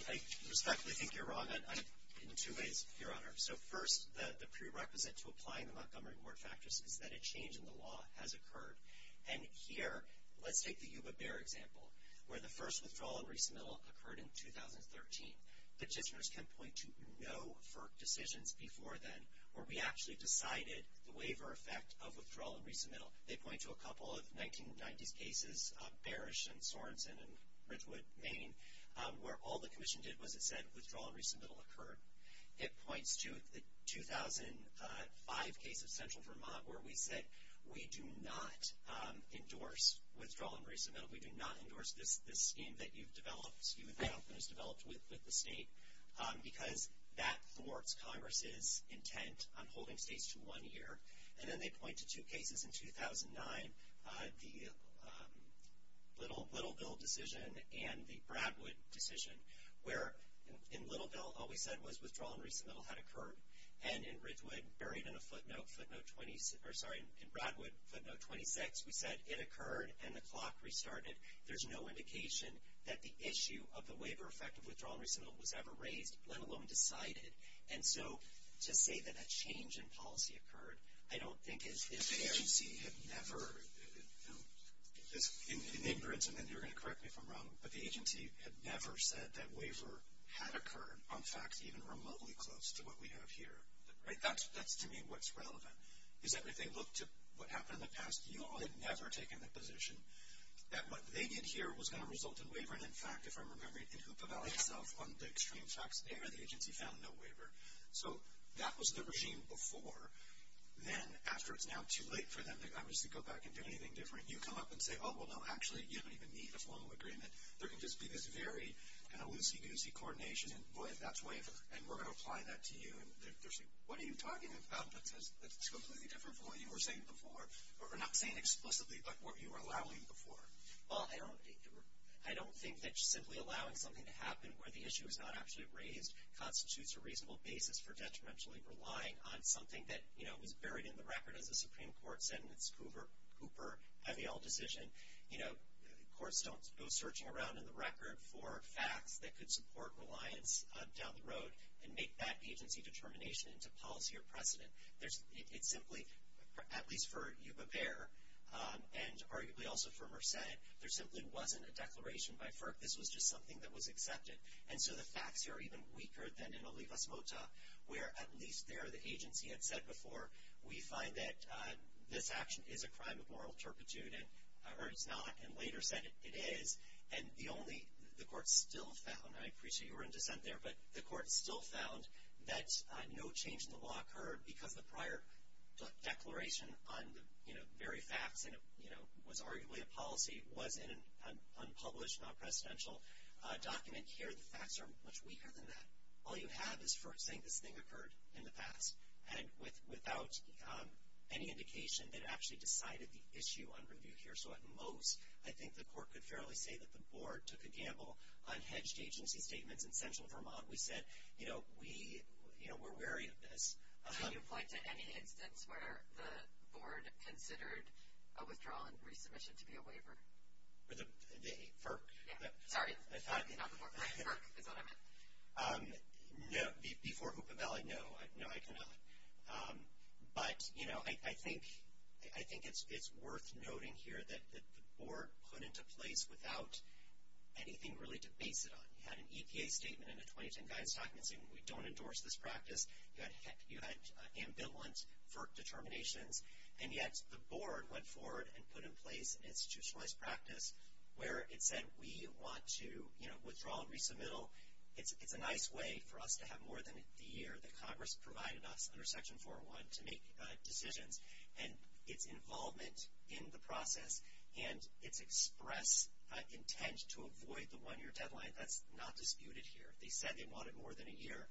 respectfully think you're wrong in two ways, Your Honor. So first, the prerequisite to applying the Montgomery board factors is that a change in the law has occurred. And here, let's take the Yuba-Bear example, where the first withdrawal and resubmittal occurred in 2013. Legislators can point to no FERC decisions before then, where we actually decided the waiver effect of withdrawal and resubmittal. They point to a couple of 1990s cases, Bearish and Sorenson and Ridgewood, Maine, where all the commission did was it said withdrawal and resubmittal occurred. It points to the 2005 case of Central Vermont, where we said we do not endorse withdrawal and resubmittal. We do not endorse this scheme that you've developed, scheme that you've developed with the state, because that thwarts Congress's intent on holding states to one year. And then they point to two cases in 2009, the Littleville decision and the Bradwood decision, where in Littleville all we said was withdrawal and resubmittal had occurred. And in Ridgewood, buried in a footnote, footnote 26, we said it occurred and the clock restarted. There's no indication that the issue of the waiver effect of withdrawal and resubmittal was ever raised, let alone decided. And so to say that a change in policy occurred, I don't think is fair. If the agency had never, in ignorance, and then you're going to correct me if I'm wrong, but the agency had never said that waiver had occurred on facts even remotely close to what we have here. Right? That's to me what's relevant, is that if they looked at what happened in the past, you all had never taken the position that what they did here was going to result in waiver. And in fact, if I'm remembering, in Hoopa Valley itself, on the extreme facts there, the agency found no waiver. So that was the regime before. Then after it's now too late for them to obviously go back and do anything different, you come up and say, oh, well, no, actually, you don't even need a formal agreement. There can just be this very kind of loosey-goosey coordination, and boy, that's waiver, and we're going to apply that to you, and they're saying, what are you talking about? That's completely different from what you were saying before, or not saying explicitly, but what you were allowing before. Well, I don't think that simply allowing something to happen where the issue is not actually raised constitutes a reasonable basis for detrimentally relying on something that, you know, was buried in the record as a Supreme Court sentence, Hoover-Cooper-Avell decision. You know, courts don't go searching around in the record for facts that could support reliance down the road and make that agency determination into policy or precedent. It simply, at least for Yuba-Bear, and arguably also for Merced, there simply wasn't a declaration by FERC. This was just something that was accepted. And so the facts here are even weaker than in Olivas-Mota, where at least there the agency had said before, we find that this action is a crime of moral turpitude, or it's not, and later said it is. And the only, the court still found, and I appreciate you were in dissent there, but the court still found that no change in the law occurred because the prior declaration on the very facts, and it was arguably a policy, was in an unpublished, non-presidential document. Here the facts are much weaker than that. All you have is FERC saying this thing occurred in the past and without any indication that it actually decided the issue on review here. So at most, I think the court could fairly say that the board took a gamble on hedged agency statements in central Vermont. We said, you know, we're wary of this. How do you apply to any instance where the board considered a withdrawal and resubmission to be a waiver? The FERC? Yeah. Sorry, not the board. FERC is what I meant. No, before Hoopa Valley, no, I cannot. But, you know, I think it's worth noting here that the board put into place without anything really to base it on. You had an EPA statement and a 2010 guidance document saying we don't endorse this practice. You had ambivalent FERC determinations. And yet the board went forward and put in place an institutionalized practice where it said we want to, you know, withdraw and resubmittal. It's a nice way for us to have more than the year that Congress provided us under Section 401 to make decisions. And its involvement in the process and its express intent to avoid the one-year deadline, that's not disputed here. If they said they wanted more than a year,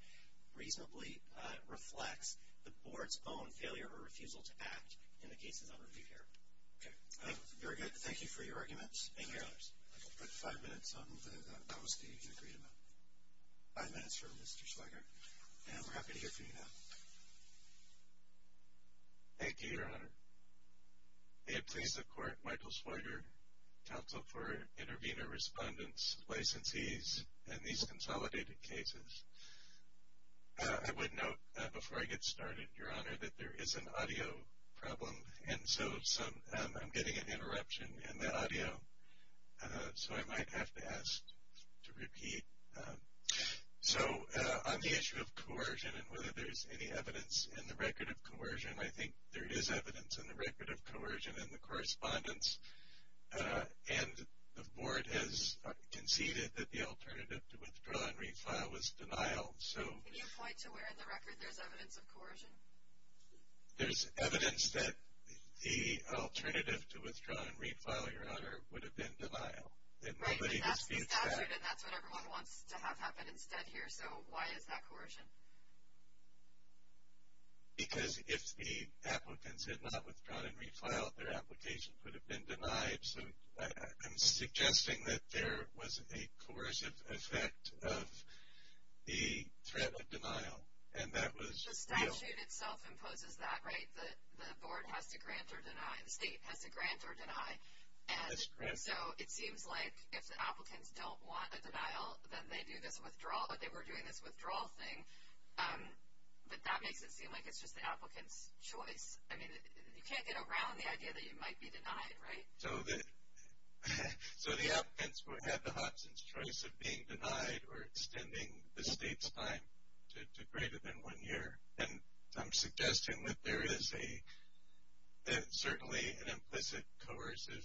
reasonably reflects the board's own failure or refusal to act in the cases I'll review here. Okay. Very good. Thank you for your arguments. Thank you, Your Honors. I'll put five minutes on the policy you agreed about. Five minutes for Mr. Schweiger. And we're happy to hear from you now. Thank you, Your Honor. May it please the Court, Michael Schweiger, Counsel for Intervenor Respondents, Licensees, and These Consolidated Cases. I would note before I get started, Your Honor, that there is an audio problem. And so I'm getting an interruption in the audio, so I might have to ask to repeat. So on the issue of coercion and whether there's any evidence in the record of coercion, I think there is evidence in the record of coercion in the correspondence. And the board has conceded that the alternative to withdraw and refile was denial. Can you point to where in the record there's evidence of coercion? There's evidence that the alternative to withdraw and refile, Your Honor, would have been denial. Right, but that's the statute, and that's what everyone wants to have happen instead here. So why is that coercion? Because if the applicants had not withdrawn and refiled, their application could have been denied. So I'm suggesting that there was a coercive effect of the threat of denial, and that was real. The statute itself imposes that, right? The board has to grant or deny. The state has to grant or deny. And so it seems like if the applicants don't want a denial, then they do this withdrawal, but that makes it seem like it's just the applicant's choice. I mean, you can't get around the idea that you might be denied, right? So the applicants had the Hodgson's choice of being denied or extending the state's time to greater than one year. And I'm suggesting that there is certainly an implicit coercive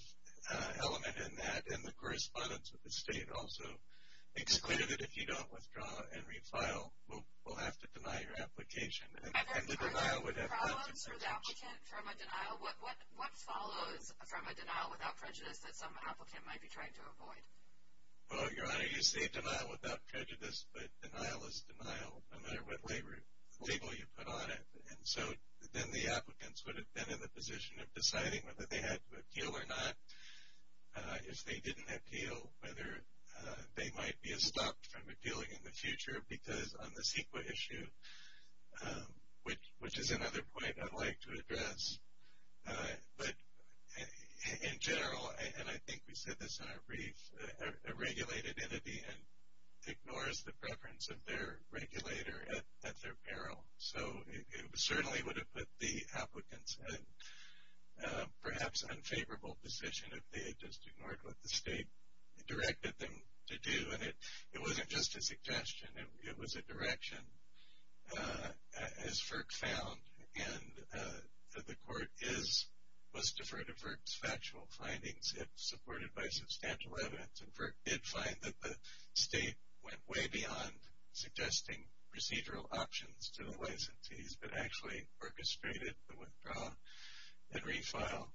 element in that, but then the correspondence with the state also makes clear that if you don't withdraw and refile, we'll have to deny your application. And the denial would have consequences. Are there problems for the applicant from a denial? What follows from a denial without prejudice that some applicant might be trying to avoid? Well, Your Honor, you say denial without prejudice, but denial is denial no matter what label you put on it. And so then the applicants would have been in the position of deciding whether they had to appeal or not. If they didn't appeal, whether they might be stopped from appealing in the future, because on the CEQA issue, which is another point I'd like to address, but in general, and I think we said this in our brief, a regulated entity ignores the preference of their regulator at their peril. So it certainly would have put the applicants in a perhaps unfavorable position if they had just ignored what the state directed them to do. And it wasn't just a suggestion. It was a direction, as FERC found, and the court was deferred to FERC's factual findings, if supported by substantial evidence. And FERC did find that the state went way beyond suggesting procedural options to the licensees, but actually orchestrated the withdrawal and refile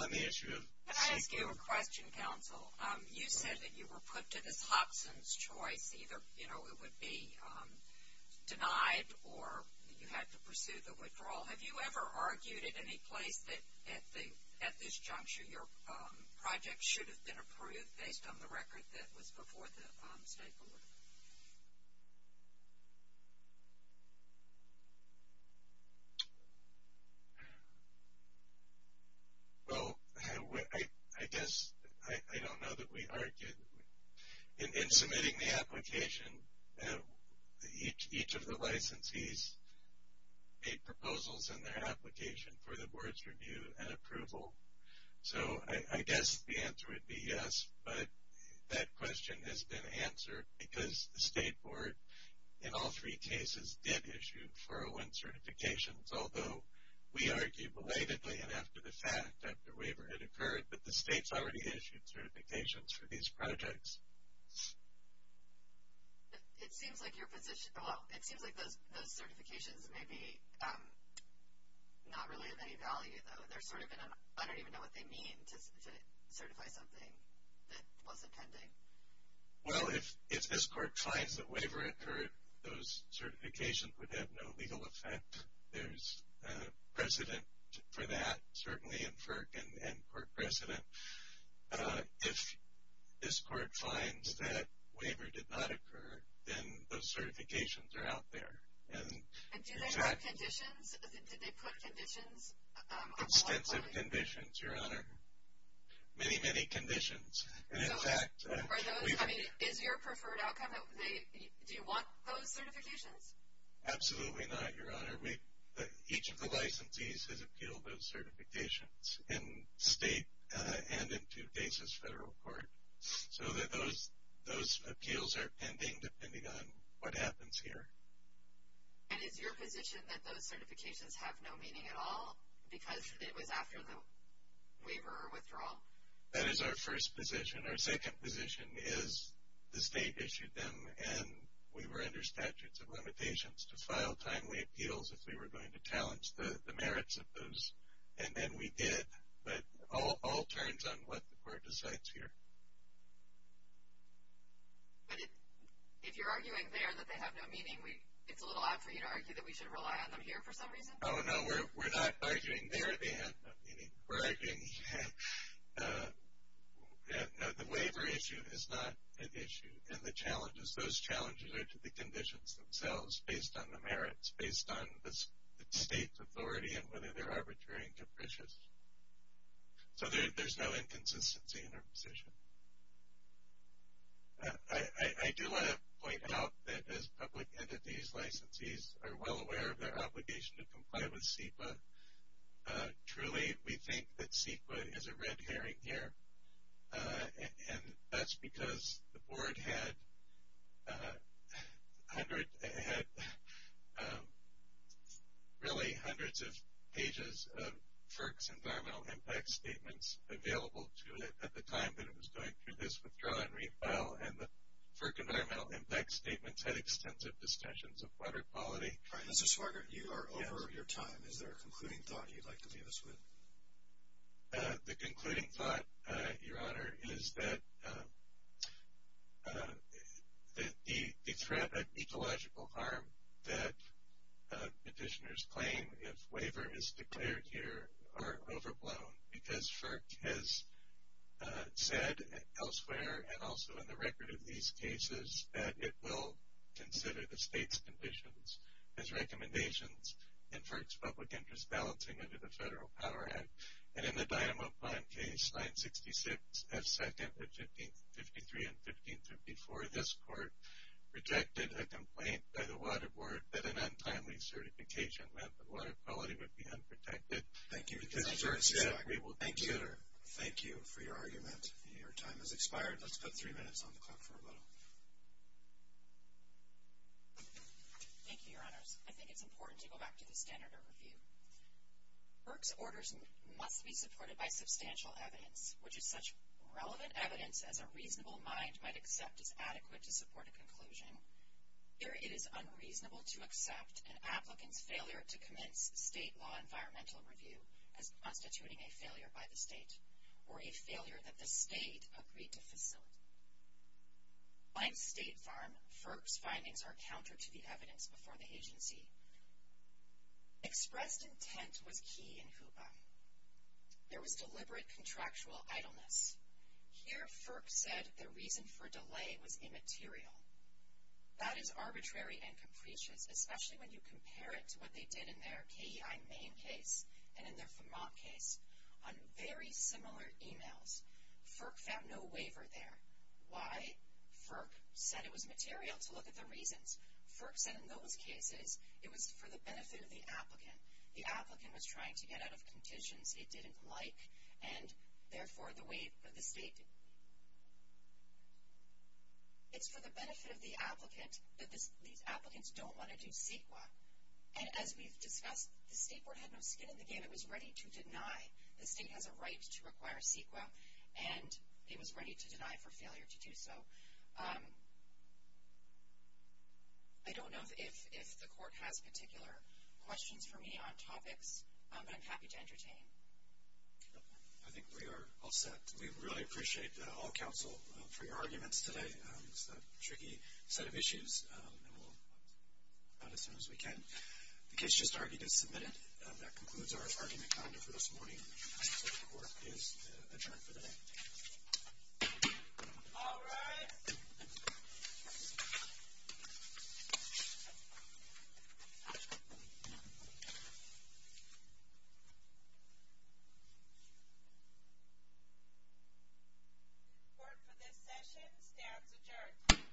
on the issue of CEQA. Can I ask you a question, counsel? You said that you were put to this Hobson's choice. Either, you know, it would be denied or you had to pursue the withdrawal. Have you ever argued at any place that at this juncture, your project should have been approved based on the record that was before the state board? Well, I guess I don't know that we argued. In submitting the application, each of the licensees made proposals in their application for the board's review and approval. So I guess the answer would be yes, but that question has been answered, because the state board in all three cases did issue 401 certifications, although we argued belatedly and after the fact, after waiver had occurred, but the state's already issued certifications for these projects. It seems like your position, well, it seems like those certifications may be not really of any value, though. I don't even know what they mean to certify something that wasn't pending. Well, if this court finds that waiver occurred, those certifications would have no legal effect. There's precedent for that, certainly, in FERC and court precedent. If this court finds that waiver did not occur, then those certifications are out there. And do they have conditions? Did they put conditions? Extensive conditions, Your Honor. Many, many conditions. Are those, I mean, is your preferred outcome, do you want those certifications? Absolutely not, Your Honor. Each of the licensees has appealed those certifications in state and in two cases federal court. So, those appeals are pending, depending on what happens here. And is your position that those certifications have no meaning at all, because it was after the waiver or withdrawal? That is our first position. Our second position is the state issued them, and we were under statutes of limitations to file timely appeals if we were going to challenge the merits of those. And then we did. But all turns on what the court decides here. But if you're arguing there that they have no meaning, it's a little odd for you to argue that we should rely on them here for some reason? Oh, no, we're not arguing there they have no meaning. We're arguing the waiver issue is not an issue. And the challenges, those challenges are to the conditions themselves, based on the merits, based on the state's authority and whether they're arbitrary and capricious. So, there's no inconsistency in our position. I do want to point out that as public entities, licensees are well aware of their obligation to comply with CEQA. Truly, we think that CEQA is a red herring here. And that's because the board had really hundreds of pages of FERC's environmental impact statements available to it at the time that it was going through this withdraw and refile. And the FERC environmental impact statements had extensive discussions of water quality. Mr. Swager, you are over your time. Is there a concluding thought you'd like to leave us with? The concluding thought, Your Honor, is that the threat of ecological harm that petitioners claim if waiver is declared here are overblown because FERC has said elsewhere and also in the record of these cases that it will consider the state's conditions as recommendations in FERC's public interest balancing under the Federal Power Act. And in the Dynamo Pond case, 966 F. 2nd of 1553 and 1554, this court rejected a complaint by the Water Board that an untimely certification meant that water quality would be unprotected. Thank you. Thank you for your argument. Your time has expired. Let's put three minutes on the clock for a little. Thank you, Your Honors. I think it's important to go back to the standard of review. FERC's orders must be supported by substantial evidence, which is such relevant evidence as a reasonable mind might accept is adequate to support a conclusion. Here it is unreasonable to accept an applicant's failure to commence state law environmental review as constituting a failure by the state or a failure that the state agreed to facilitate. On State Farm, FERC's findings are counter to the evidence before the agency. Expressed intent was key in HOOPA. There was deliberate contractual idleness. Here FERC said the reason for delay was immaterial. That is arbitrary and capricious, especially when you compare it to what they did in their KEI Maine case and in their Vermont case on very similar emails. FERC found no waiver there. Why? FERC said it was material to look at the reasons. FERC said in those cases it was for the benefit of the applicant. The applicant was trying to get out of conditions it didn't like, and therefore the way the state did. It's for the benefit of the applicant, but these applicants don't want to do CEQA. And as we've discussed, the state board had no skin in the game. It was ready to deny the state has a right to require CEQA. And it was ready to deny for failure to do so. I don't know if the court has particular questions for me on topics, but I'm happy to entertain. I think we are all set. We really appreciate all counsel for your arguments today. It's a tricky set of issues, and we'll get on as soon as we can. The case just argued is submitted. And that concludes our argument calendar for this morning. The court is adjourned for the day. All rise. Court for this session stands adjourned.